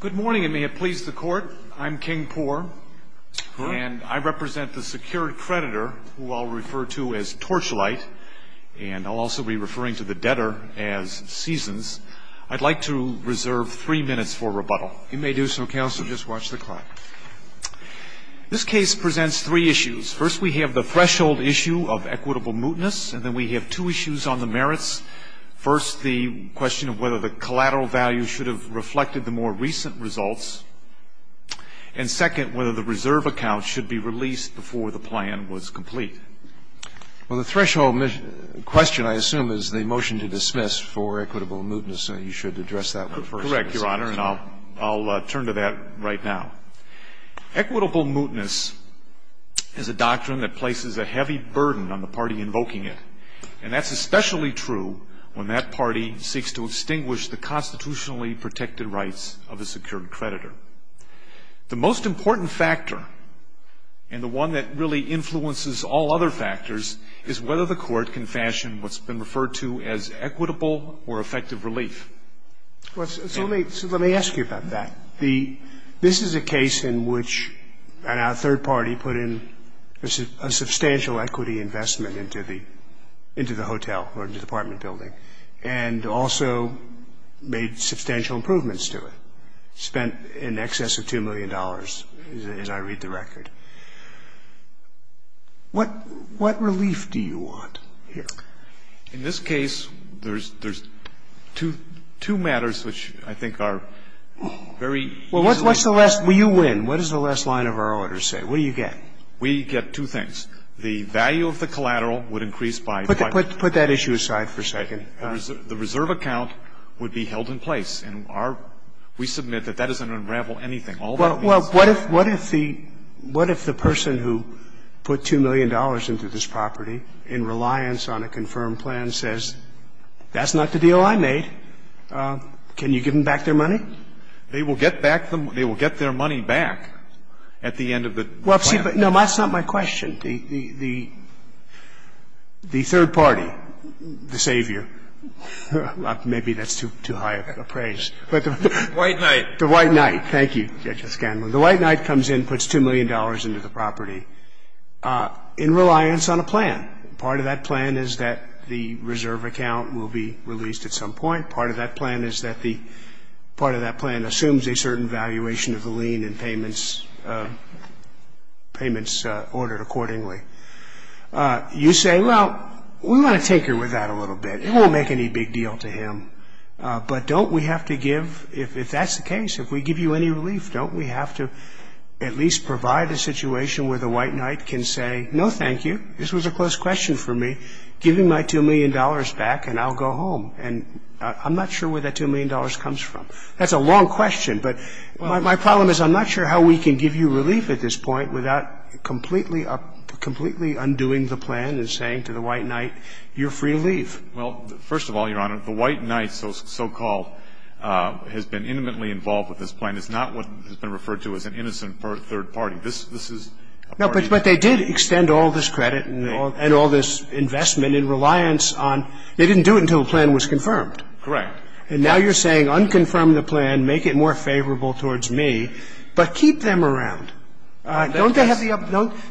Good morning and may it please the court. I'm King Poore and I represent the secured creditor who I'll refer to as Torchlight and I'll also be referring to the debtor as Seasons. I'd like to reserve three minutes for rebuttal. You may do so, counsel. Just watch the clock. This case presents three issues. First, we have the threshold issue of equitable mootness and then we have two issues on the merits. First, the question of whether the collateral value should have reflected the more recent results. And second, whether the reserve account should be released before the plan was complete. Well, the threshold question, I assume, is the motion to dismiss for equitable mootness. You should address that one first. You're correct, Your Honor, and I'll turn to that right now. Equitable mootness is a doctrine that places a heavy burden on the party invoking it. And that's especially true when that party seeks to extinguish the constitutionally protected rights of the secured creditor. The most important factor and the one that really influences all other factors is whether the court can fashion what's been referred to as equitable or effective relief. So let me ask you about that. This is a case in which a third party put in a substantial equity investment into the hotel or into the apartment building and also made substantial improvements to it, spent in excess of $2 million, as I read the record. What relief do you want here? In this case, there's two matters which I think are very easily explained. Well, what's the last one? You win. What does the last line of our order say? What do you get? We get two things. The value of the collateral would increase by 5 percent. Put that issue aside for a second. The reserve account would be held in place. And our – we submit that that doesn't unravel anything. Well, what if the person who put $2 million into this property in reliance on a confirmed plan says, that's not the deal I made, can you give them back their money? They will get back the – they will get their money back at the end of the plan. Well, see, but no, that's not my question. The third party, the savior, maybe that's too high a praise. The white knight. The white knight, thank you. The white knight comes in, puts $2 million into the property in reliance on a plan. Part of that plan is that the reserve account will be released at some point. Part of that plan is that the – part of that plan assumes a certain valuation of the lien and payments ordered accordingly. You say, well, we want to tinker with that a little bit. It won't make any big deal to him. But don't we have to give – if that's the case, if we give you any relief, don't we have to at least provide a situation where the white knight can say, no, thank you, this was a close question for me, give me my $2 million back and I'll go home. And I'm not sure where that $2 million comes from. That's a long question, but my problem is I'm not sure how we can give you relief at this point without completely undoing the plan and saying to the white knight, you're free to leave. Well, first of all, Your Honor, the white knight, so called, has been intimately involved with this plan. It's not what has been referred to as an innocent third party. This is a party – No, but they did extend all this credit and all this investment in reliance on – they didn't do it until the plan was confirmed. Correct. And now you're saying unconfirm the plan, make it more favorable towards me, but keep them around. Don't they have the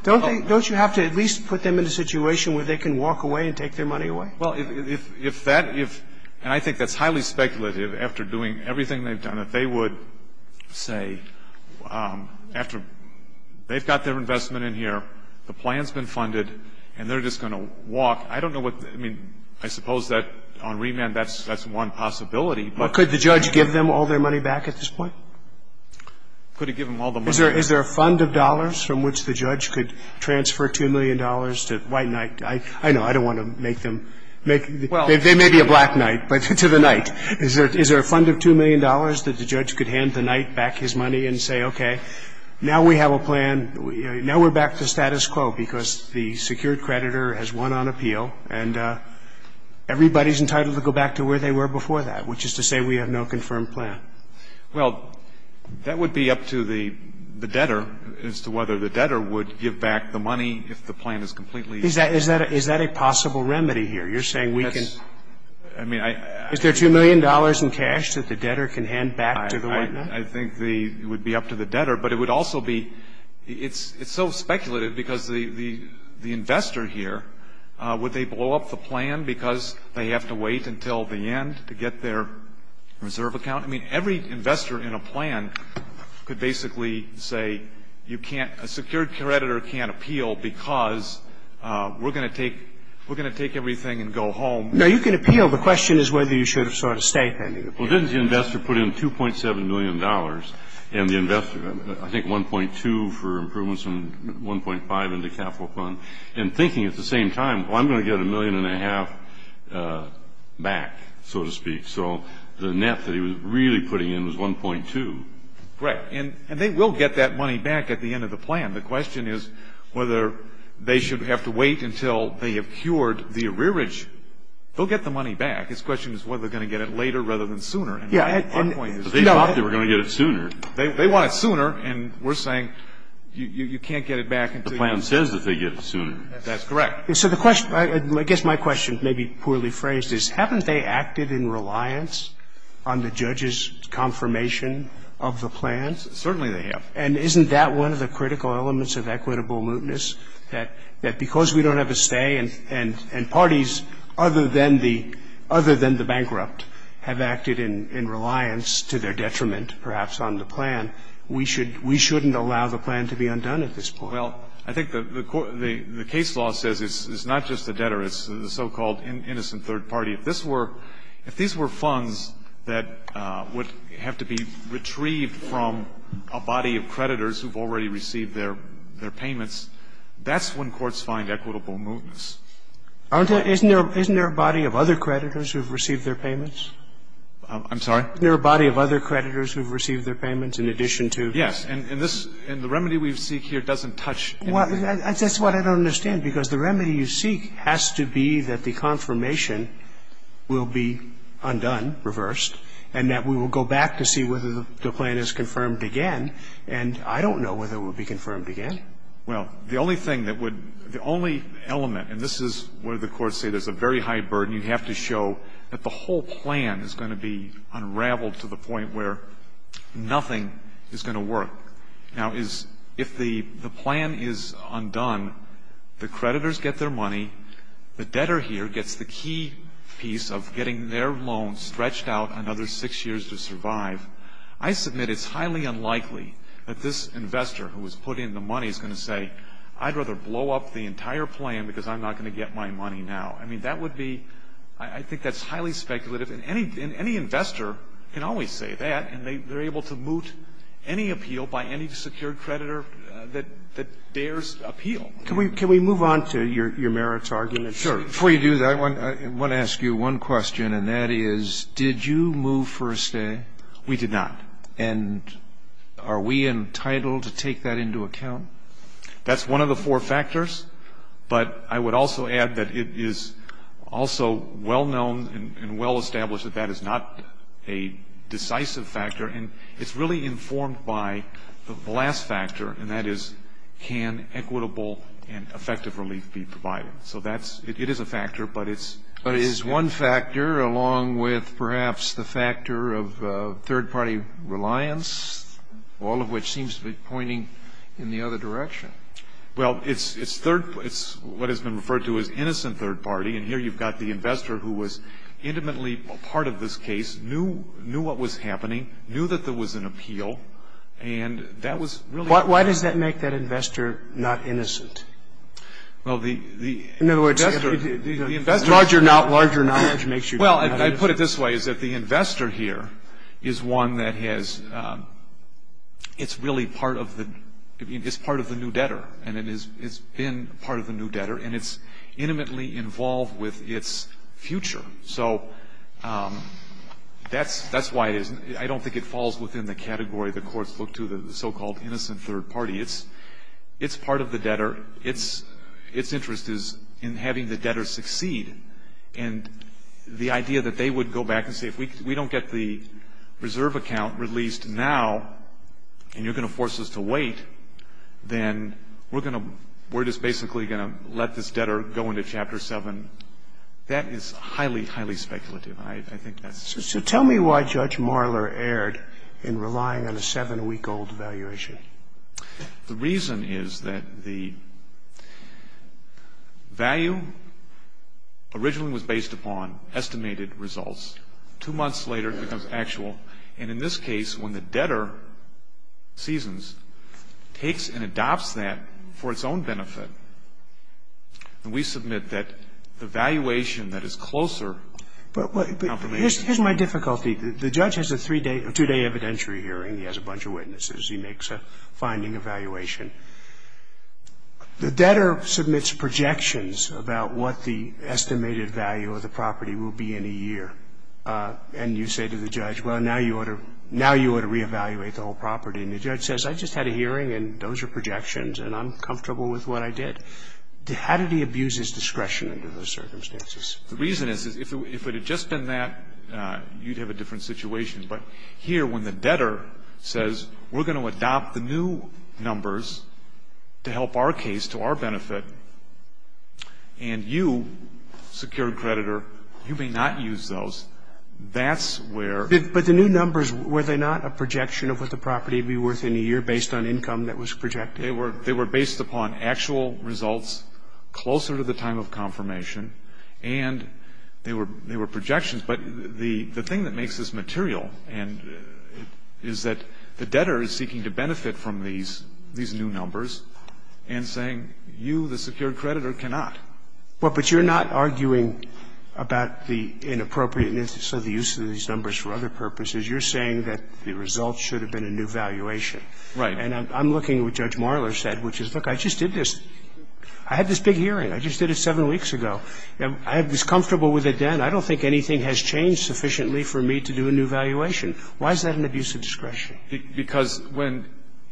– don't you have to at least put them in a situation where they can walk away and take their money away? Well, if that – and I think that's highly speculative after doing everything they've done. If they would say after they've got their investment in here, the plan's been funded, and they're just going to walk. I don't know what – I mean, I suppose that on remand that's one possibility. But could the judge give them all their money back at this point? Could he give them all the money? Is there a fund of dollars from which the judge could transfer $2 million to white knight? I know. I don't want to make them – they may be a black knight, but to the knight. Is there a fund of $2 million that the judge could hand the knight back his money and say, okay, now we have a plan, now we're back to status quo because the secured creditor has won on appeal, and everybody's entitled to go back to where they were before that, which is to say we have no confirmed plan. Well, that would be up to the debtor as to whether the debtor would give back the money if the plan is completely – Is that a possible remedy here? You're saying we can – is there $2 million in cash that the debtor can hand back to the white knight? I think it would be up to the debtor. But it would also be – it's so speculative because the investor here, would they blow up the plan because they have to wait until the end to get their reserve account? I mean, every investor in a plan could basically say you can't – a secured creditor can't appeal because we're going to take – we're going to take everything and go home. Now, you can appeal. The question is whether you should have sought a statement. Well, didn't the investor put in $2.7 million, and the investor – I think 1.2 for improvements from 1.5 in the capital fund, and thinking at the same time, well, I'm going to get a million and a half back, so to speak. So the net that he was really putting in was 1.2. Right. And they will get that money back at the end of the plan. The question is whether they should have to wait until they have cured the arrearage. They'll get the money back. His question is whether they're going to get it later rather than sooner. Yeah. But they thought they were going to get it sooner. They want it sooner, and we're saying you can't get it back until – The plan says that they get it sooner. That's correct. So the question – I guess my question, maybe poorly phrased, is haven't they acted in reliance on the judge's confirmation of the plans? Certainly they have. And isn't that one of the critical elements of equitable mootness, that because we don't have a stay and parties other than the bankrupt have acted in reliance to their detriment, perhaps, on the plan, we shouldn't allow the plan to be undone at this point? Well, I think the case law says it's not just the debtor. It's the so-called innocent third party. If this were – if these were funds that would have to be retrieved from a body of creditors who have already received their payments, that's when courts find equitable mootness. Aren't there – isn't there a body of other creditors who have received their payments? I'm sorry? Isn't there a body of other creditors who have received their payments in addition to? Yes. And this – and the remedy we seek here doesn't touch anything. Well, that's what I don't understand, because the remedy you seek has to be that the confirmation will be undone, reversed, and that we will go back to see whether the plan is confirmed again. And I don't know whether it will be confirmed again. Well, the only thing that would – the only element, and this is where the courts say there's a very high burden. You have to show that the whole plan is going to be unraveled to the point where nothing is going to work. Now, is – if the plan is undone, the creditors get their money, the debtor here gets the key piece of getting their loan stretched out another six years to survive, I submit it's highly unlikely that this investor who was put in the money is going to say, I'd rather blow up the entire plan because I'm not going to get my money now. I mean, that would be – I think that's highly speculative. And any investor can always say that, and they're able to moot any appeal by any secured creditor that bears appeal. Can we move on to your merits argument? Sure. Before you do that, I want to ask you one question, and that is, did you move for a stay? We did not. And are we entitled to take that into account? That's one of the four factors. I would also add that it is also well-known and well-established that that is not a decisive factor, and it's really informed by the last factor, and that is, can equitable and effective relief be provided? So that's – it is a factor, but it's – But is one factor, along with perhaps the factor of third-party reliance, all of which seems to be pointing in the other direction? Well, it's third – it's what has been referred to as innocent third-party, and here you've got the investor who was intimately part of this case, knew what was happening, knew that there was an appeal, and that was really – Why does that make that investor not innocent? Well, the – In other words – The investor – Larger knowledge makes you not innocent. Well, I put it this way, is that the investor here is one that has – it's really part of the – it's part of the new debtor, and it has been part of the new debtor, and it's intimately involved with its future. So that's why it is – I don't think it falls within the category the courts look to, the so-called innocent third party. It's part of the debtor. Its interest is in having the debtor succeed, and the idea that they would go back and say, if we don't get the reserve account released now, and you're going to force us to wait, then we're going to – we're just basically going to let this debtor go into Chapter 7. That is highly, highly speculative, and I think that's – So tell me why Judge Marler erred in relying on a seven-week-old valuation. The reason is that the value originally was based upon estimated results. Two months later, it becomes actual. And in this case, when the debtor, Seasons, takes and adopts that for its own benefit, then we submit that the valuation that is closer to confirmation. But here's my difficulty. The judge has a three-day – a two-day evidentiary hearing. He has a bunch of witnesses. He makes a finding evaluation. The debtor submits projections about what the estimated value of the property will be in a year. And you say to the judge, well, now you ought to – now you ought to reevaluate the whole property. And the judge says, I just had a hearing, and those are projections, and I'm comfortable with what I did. How did he abuse his discretion under those circumstances? The reason is, if it had just been that, you'd have a different situation. But here, when the debtor says, we're going to adopt the new numbers to help our case to our benefit, and you, secured creditor, you may not use those, that's where – But the new numbers, were they not a projection of what the property would be worth in a year based on income that was projected? They were based upon actual results closer to the time of confirmation, and they were projections. But the thing that makes this material is that the debtor is seeking to benefit from these new numbers and saying, you, the secured creditor, cannot. Well, but you're not arguing about the inappropriateness of the use of these numbers for other purposes. You're saying that the results should have been a new valuation. Right. And I'm looking at what Judge Marler said, which is, look, I just did this. I had this big hearing. I just did it seven weeks ago. I was comfortable with it then. I don't think anything has changed sufficiently for me to do a new valuation. Why is that an abuse of discretion? Because when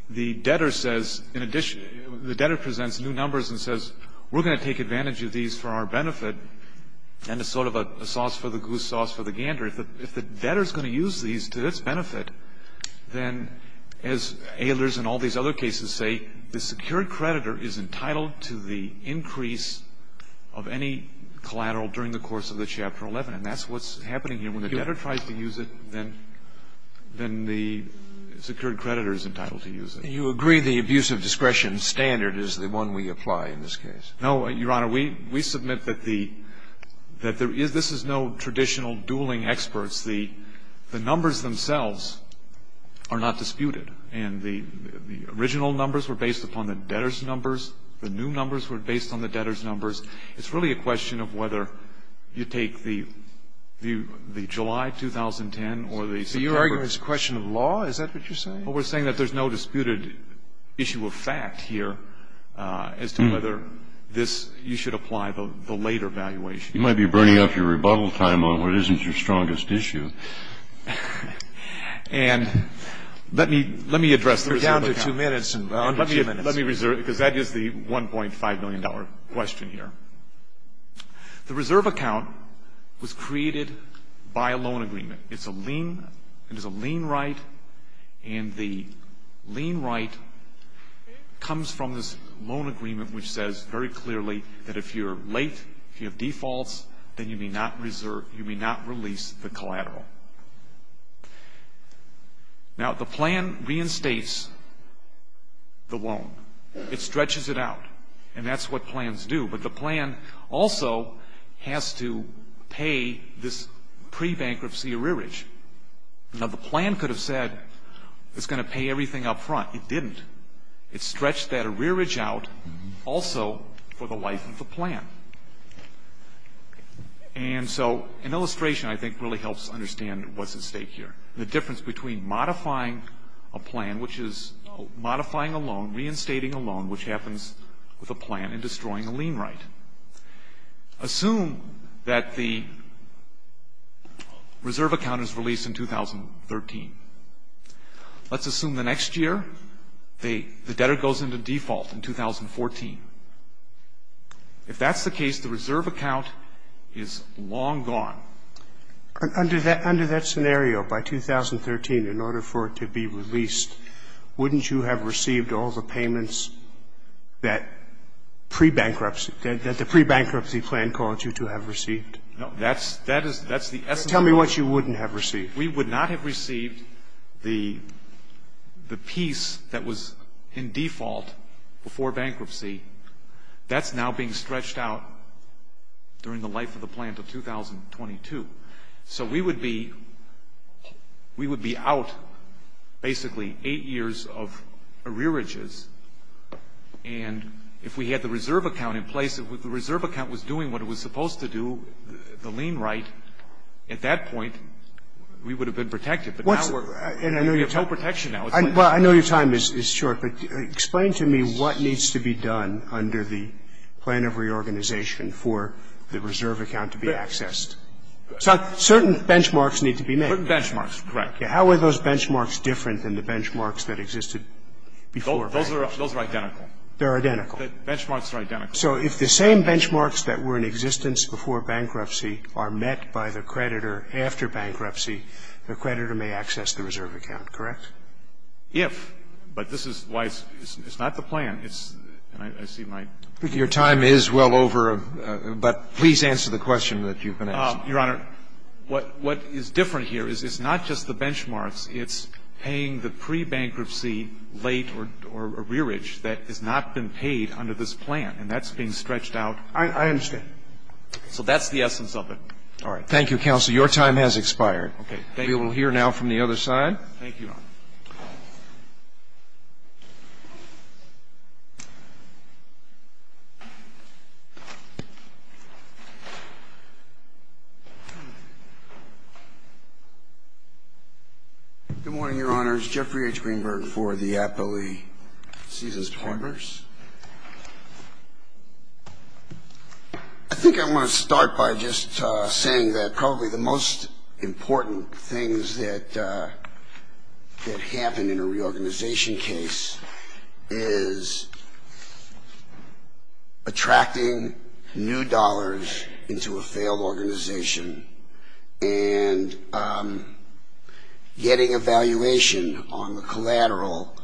the debtor says, in addition, the debtor presents new numbers and says, we're going to take advantage of these for our benefit, then it's sort of a sauce for the goose, sauce for the gander. If the debtor is going to use these to its benefit, then, as Ehlers and all these other cases say, the secured creditor is entitled to the increase of any collateral during the course of the Chapter 11. And that's what's happening here. When the debtor tries to use it, then the secured creditor is entitled to use it. And you agree the abuse of discretion standard is the one we apply in this case? No, Your Honor. We submit that the – that there is – this is no traditional dueling experts. The numbers themselves are not disputed. And the original numbers were based upon the debtor's numbers. The new numbers were based on the debtor's numbers. It's really a question of whether you take the July 2010 or the September. So your argument is a question of law? Is that what you're saying? Well, we're saying that there's no disputed issue of fact here as to whether this – you should apply the later valuation. You might be burning up your rebuttal time on what isn't your strongest issue. And let me address the reserve account. We're down to two minutes. Let me reserve it because that is the $1.5 million question here. The reserve account was created by a loan agreement. It's a lien. It is a lien right. And the lien right comes from this loan agreement which says very clearly that if you're late, if you have defaults, then you may not release the collateral. Now, the plan reinstates the loan. It stretches it out. And that's what plans do. But the plan also has to pay this pre-bankruptcy arrearage. Now, the plan could have said it's going to pay everything up front. It didn't. It stretched that arrearage out also for the life of the plan. And so an illustration, I think, really helps understand what's at stake here. The difference between modifying a plan, which is modifying a loan, reinstating a loan, which happens with a plan, and destroying a lien right. Assume that the reserve account is released in 2013. Let's assume the next year the debtor goes into default in 2014. If that's the case, the reserve account is long gone. Under that scenario, by 2013, in order for it to be released, wouldn't you have received all the payments that pre-bankruptcy, that the pre-bankruptcy plan called you to have received? No, that's the essence of the loan. Tell me what you wouldn't have received. If we would not have received the piece that was in default before bankruptcy, that's now being stretched out during the life of the plan to 2022. So we would be out basically eight years of arrearages. And if we had the reserve account in place, if the reserve account was doing what it was supposed to do, the lien right, at that point, we would have been protected. But now we're in total protection now. Well, I know your time is short, but explain to me what needs to be done under the plan of reorganization for the reserve account to be accessed. Certain benchmarks need to be made. Certain benchmarks, correct. How are those benchmarks different than the benchmarks that existed before? Those are identical. They're identical. The benchmarks are identical. So if the same benchmarks that were in existence before bankruptcy are met by the creditor after bankruptcy, the creditor may access the reserve account, correct? If. But this is why it's not the plan. And I see my ---- Your time is well over, but please answer the question that you've been asking. Your Honor, what is different here is it's not just the benchmarks. It's paying the pre-bankruptcy late or arrearage that has not been paid under this plan, and that's being stretched out. I understand. So that's the essence of it. All right. Thank you, counsel. Your time has expired. Okay. Thank you. We will hear now from the other side. Thank you, Your Honor. Good morning, Your Honors. My name is Jeffrey H. Greenberg for the Aptly Caesars Partners. I think I want to start by just saying that probably the most important things that happen in a reorganization case is attracting new dollars into a failed organization and getting a valuation on the collateral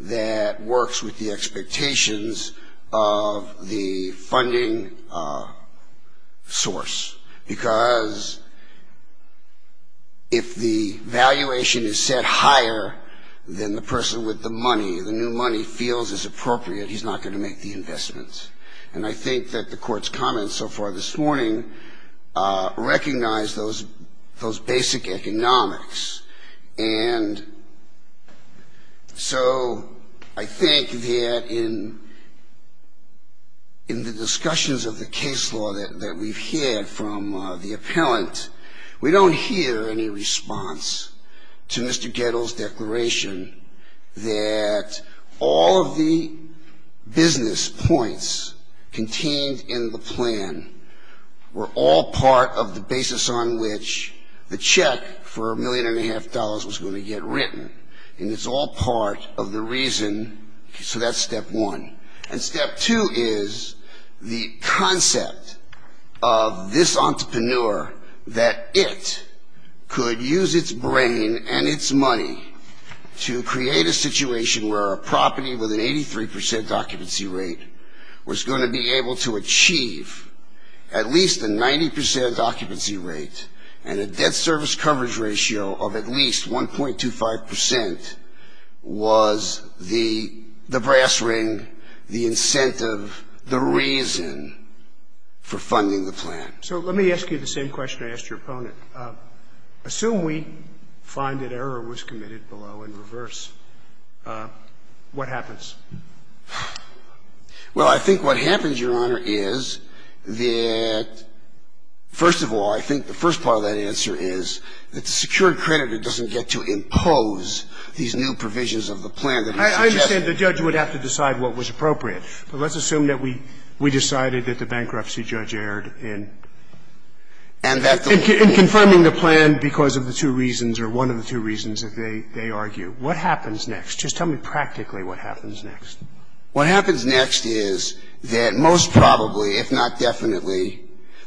that works with the expectations of the funding source. Because if the valuation is set higher than the person with the money, the new money feels is appropriate, he's not going to make the investments. And I think that the Court's comments so far this morning recognize those basic economics. And so I think that in the discussions of the case law that we've had from the appellant, we don't hear any response to Mr. Gettle's declaration that all of the business points contained in the plan were all part of the basis on which the check for a million-and-a-half dollars was going to get written, and it's all part of the reason. So that's step one. And step two is the concept of this entrepreneur that it could use its brain and its money to create a situation where a property with an 83 percent occupancy rate was going to be able to achieve at least a 90 percent occupancy rate and a debt service coverage ratio of at least 1.25 percent was the brass ring, the incentive, the reason for funding the plan. So let me ask you the same question I asked your opponent. Assume we find that error was committed below in reverse. What happens? Well, I think what happens, Your Honor, is that, first of all, I think the first part of that answer is that the secured creditor doesn't get to impose these new provisions of the plan that he suggests. I understand the judge would have to decide what was appropriate, but let's assume that we decided that the bankruptcy judge erred in confirming the plan because of the two reasons or one of the two reasons that they argue. What happens next? Just tell me practically what happens next. What happens next is that most probably, if not definitely,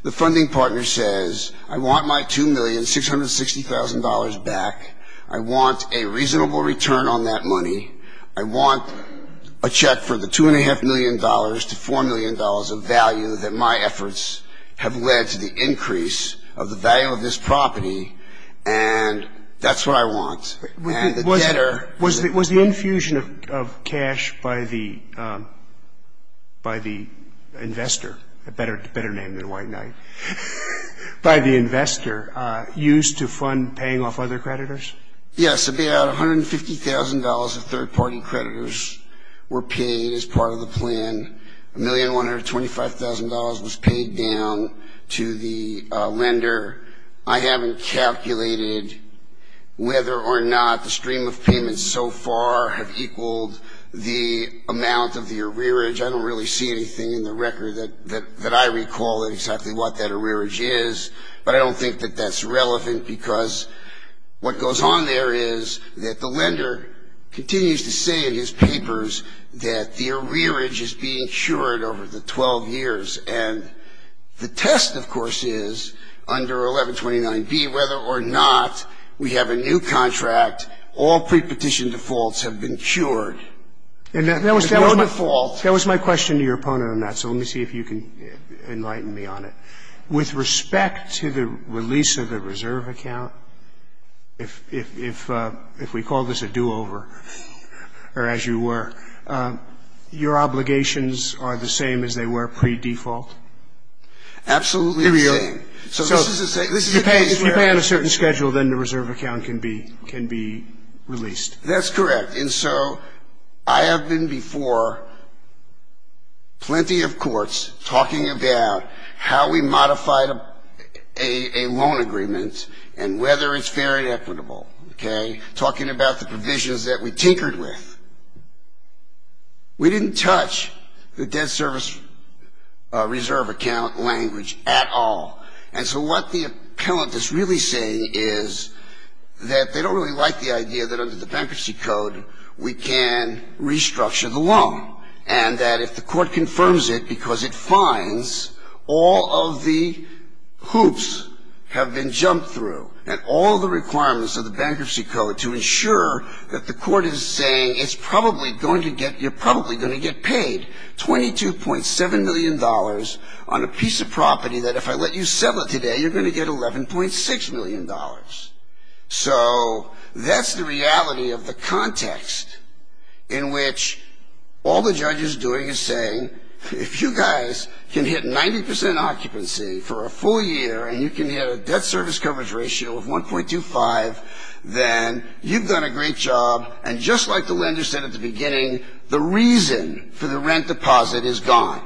the funding partner says, I want my $2,660,000 back. I want a reasonable return on that money. I want a check for the $2.5 million to $4 million of value that my efforts have led to the value of this property, and that's what I want. Was the infusion of cash by the investor, a better name than White Knight, by the investor used to fund paying off other creditors? Yes. About $150,000 of third-party creditors were paid as part of the plan. I haven't calculated whether or not the stream of payments so far have equaled the amount of the arrearage. I don't really see anything in the record that I recall exactly what that arrearage is, but I don't think that that's relevant, because what goes on there is that the lender continues to say in his papers that the arrearage is being cured over the 12 years, and the test, of course, is under 1129B, whether or not we have a new contract, all prepetition defaults have been cured. And that was my question to your opponent on that, so let me see if you can enlighten me on it. With respect to the release of the reserve account, if we call this a do-over, or as you were, your obligations are the same as they were pre-default? Absolutely the same. So if you pay on a certain schedule, then the reserve account can be released? That's correct, and so I have been before plenty of courts talking about how we modified a loan agreement and whether it's fair and equitable, okay, talking about the provisions that we tinkered with. We didn't touch the debt service reserve account language at all, and so what the appellant is really saying is that they don't really like the idea that under the bankruptcy code we can restructure the loan, and that if the court confirms it because it finds all of the hoops have been jumped through, and all the requirements of the bankruptcy code to ensure that the court is saying it's probably going to get, you're going to get $11.6 million on a piece of property that if I let you sell it today, you're going to get $11.6 million. So that's the reality of the context in which all the judge is doing is saying, if you guys can hit 90% occupancy for a full year, and you can hit a debt service coverage ratio of 1.25, then you've done a great job, and just like the lender said at the time,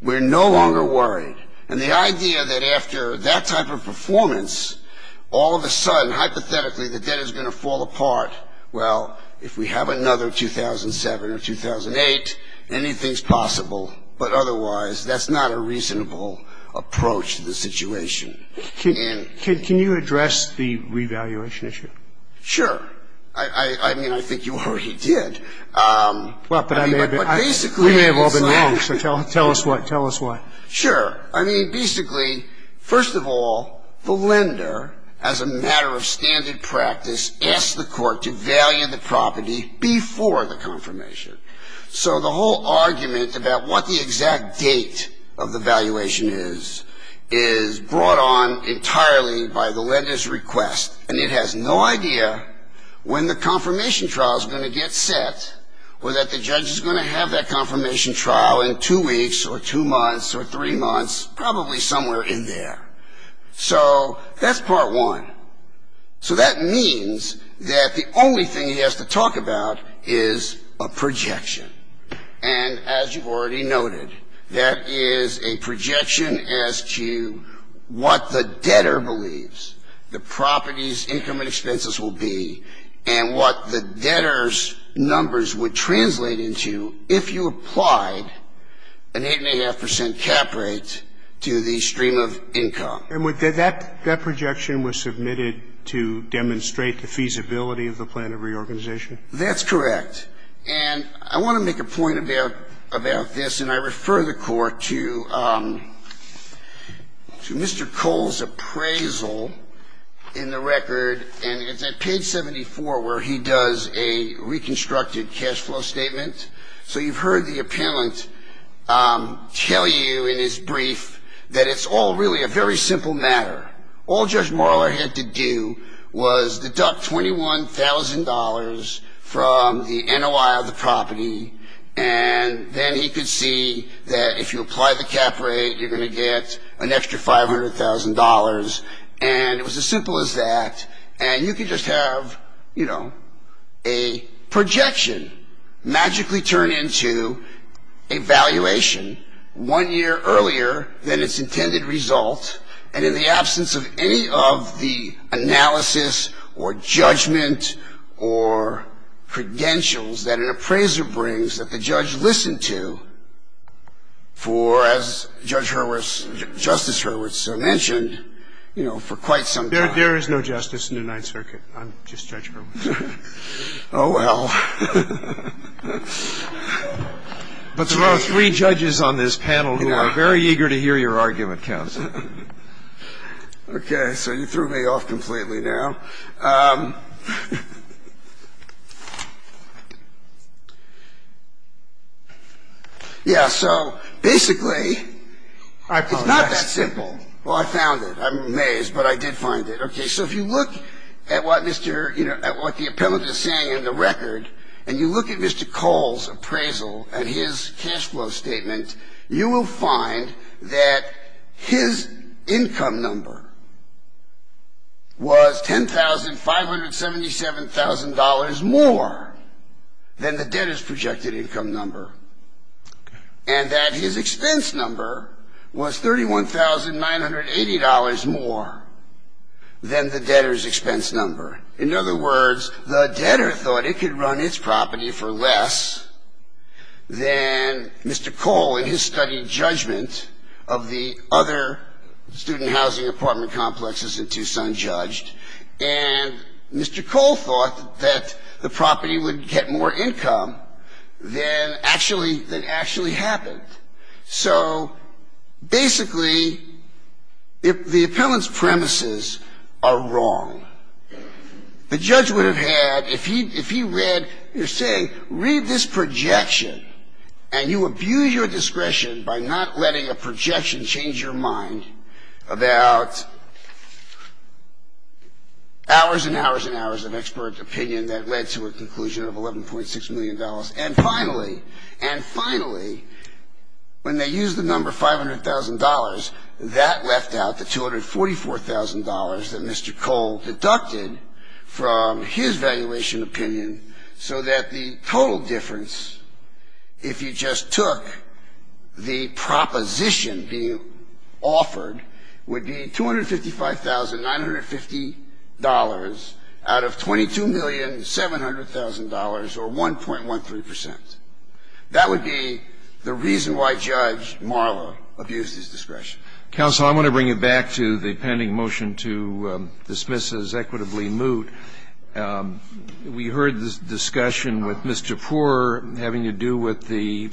we're no longer worried. And the idea that after that type of performance, all of a sudden, hypothetically, the debt is going to fall apart, well, if we have another 2007 or 2008, anything's possible. But otherwise, that's not a reasonable approach to the situation. And can you address the revaluation issue? Sure. I mean, I think you already did. We may have all been wrong, so tell us why. Sure. I mean, basically, first of all, the lender, as a matter of standard practice, asked the court to value the property before the confirmation. So the whole argument about what the exact date of the valuation is, is brought on entirely by the lender's request. And it has no idea when the confirmation trial is going to get set, or that the judge is going to have that confirmation trial in two weeks or two months or three months, probably somewhere in there. So that's part one. So that means that the only thing he has to talk about is a projection. And as you've already noted, that is a projection as to what the debtor believes the property's income and expenses will be, and what the debtor's numbers would translate into if you applied an 8.5 percent cap rate to the stream of income. And that projection was submitted to demonstrate the feasibility of the plan of reorganization? That's correct. And I want to make a point about this, and I refer the Court to Mr. Cole's projection. And it's at page 74 where he does a reconstructed cash flow statement. So you've heard the appellant tell you in his brief that it's all really a very simple matter. All Judge Marler had to do was deduct $21,000 from the NOI of the property, and then he could see that if you apply the cap rate, you're going to get an extra $500,000. And it was as simple as that. And you could just have, you know, a projection magically turn into a valuation one year earlier than its intended result, and in the absence of any of the analysis or judgment or credentials that an appraiser brings that the judge listened to for, as Judge Hurwitz, Justice Hurwitz mentioned, you know, for quite some time. There is no justice in the Ninth Circuit. I'm just Judge Hurwitz. Oh, well. But there are three judges on this panel who are very eager to hear your argument, Counsel. Okay. So you threw me off completely now. Yeah. So basically, it's not that simple. Well, I found it. I'm amazed, but I did find it. Okay. So if you look at what Mr. — you know, at what the appellant is saying in the record, and you look at Mr. Cole's appraisal and his cash flow statement, you will find that his income number was $10,000. $1,577,000 more than the debtor's projected income number, and that his expense number was $31,980 more than the debtor's expense number. In other words, the debtor thought it could run its property for less than Mr. Cole in his study judgment of the other student housing apartment complexes in Tucson judged, and Mr. Cole thought that the property would get more income than actually happened. So basically, the appellant's premises are wrong. The judge would have had, if he read, you're saying, read this projection, and you abuse your discretion by not letting a projection change your mind about hours and hours and hours of expert opinion that led to a conclusion of $11.6 million. And finally, when they used the number $500,000, that left out the $244,000 that Mr. Cole deducted from his valuation opinion, so that the total difference, if you just took the proposition being offered, would be $255,950 out of $22,700,000, or 1.13 percent. That would be the reason why Judge Marla abused his discretion. Counsel, I want to bring you back to the pending motion to dismiss as equitably moot. We heard this discussion with Mr. Poore having to do with the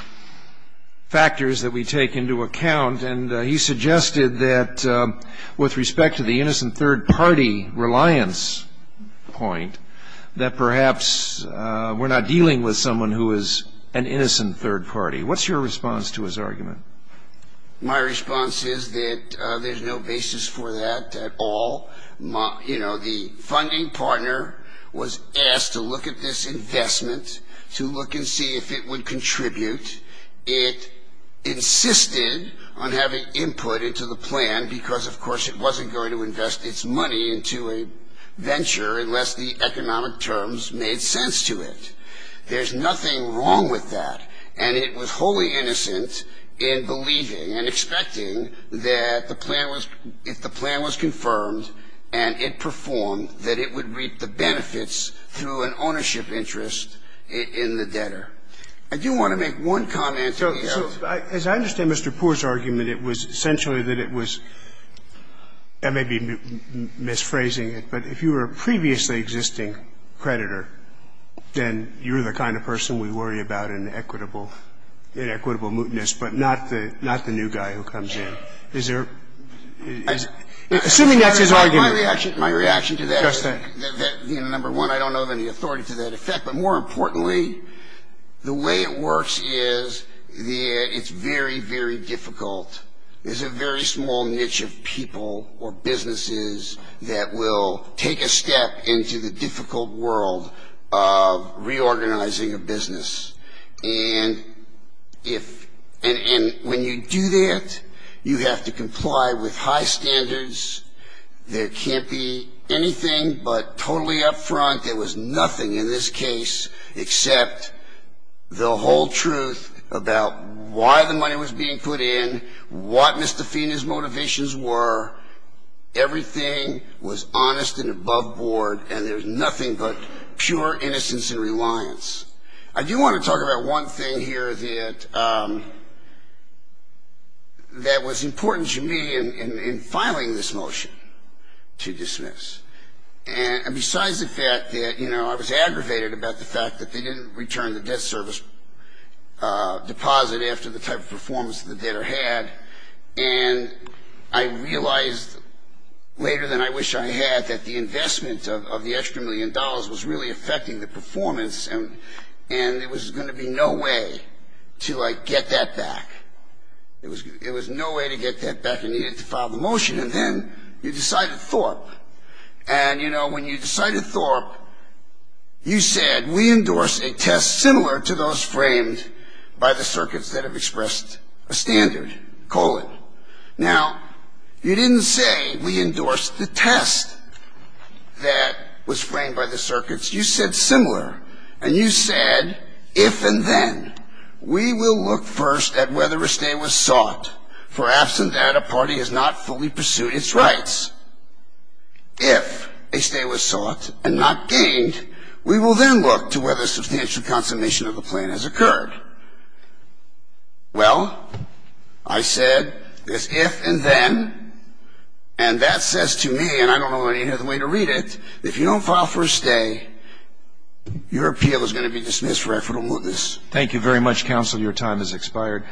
factors that we take into account, and he suggested that with respect to the innocent third party reliance point, that perhaps we're not dealing with someone who is an innocent third party. What's your response to his argument? My response is that there's no basis for that at all. You know, the funding partner was asked to look at this investment, to look and see if it would contribute. It insisted on having input into the plan, because of course it wasn't going to invest its money into a venture unless the economic terms made sense to it. There's nothing wrong with that, and it was wholly innocent in believing and expecting that the plan was, if the plan was confirmed and it performed, that it would reap the benefits through an ownership interest in the debtor. I do want to make one comment. So as I understand Mr. Poore's argument, it was essentially that it was, I may be misphrasing it, but if you were a previously existing creditor, then you're the kind of person we worry about in equitable mootness, but not the new guy who comes in. Assuming that's his argument. My reaction to that is, number one, I don't know of any authority to that effect, but more importantly, the way it works is it's very, very difficult. There's a very small niche of people or businesses that will take a step into the difficult world of reorganizing a business. And if, and when you do that, you have to comply with high standards. There can't be anything but totally up front, there was nothing in this case except the whole truth about why the money was being put in, what Mr. Fina's motivations were, everything was honest and above board, and there's nothing but pure innocence and reliance. I do want to talk about one thing here that was important to me in filing this motion to dismiss. And besides the fact that, you know, I was aggravated about the fact that they didn't return the debt service deposit after the type of performance that the debtor had, and I realized later than I wish I had that the investment of the extra million dollars was really affecting the performance, and there was going to be no way to, like, get that back. It was no way to get that back, you needed to file the motion, and then you decided Thorpe. And, you know, when you decided Thorpe, you said, we endorse a test similar to those framed by the circuits that have expressed a standard, colon. Now, you didn't say we endorsed the test that was framed by the circuits, you said similar, and you said if and then. We will look first at whether a stay was sought, for absent that, a party has not fully pursued its rights. If a stay was sought and not gained, we will then look to whether substantial consummation of the plan has occurred. Well, I said this if and then, and that says to me, and I don't know any other way to read it, if you don't file for a stay, your appeal is going to be dismissed for equitable mootness. Thank you very much, counsel, your time has expired.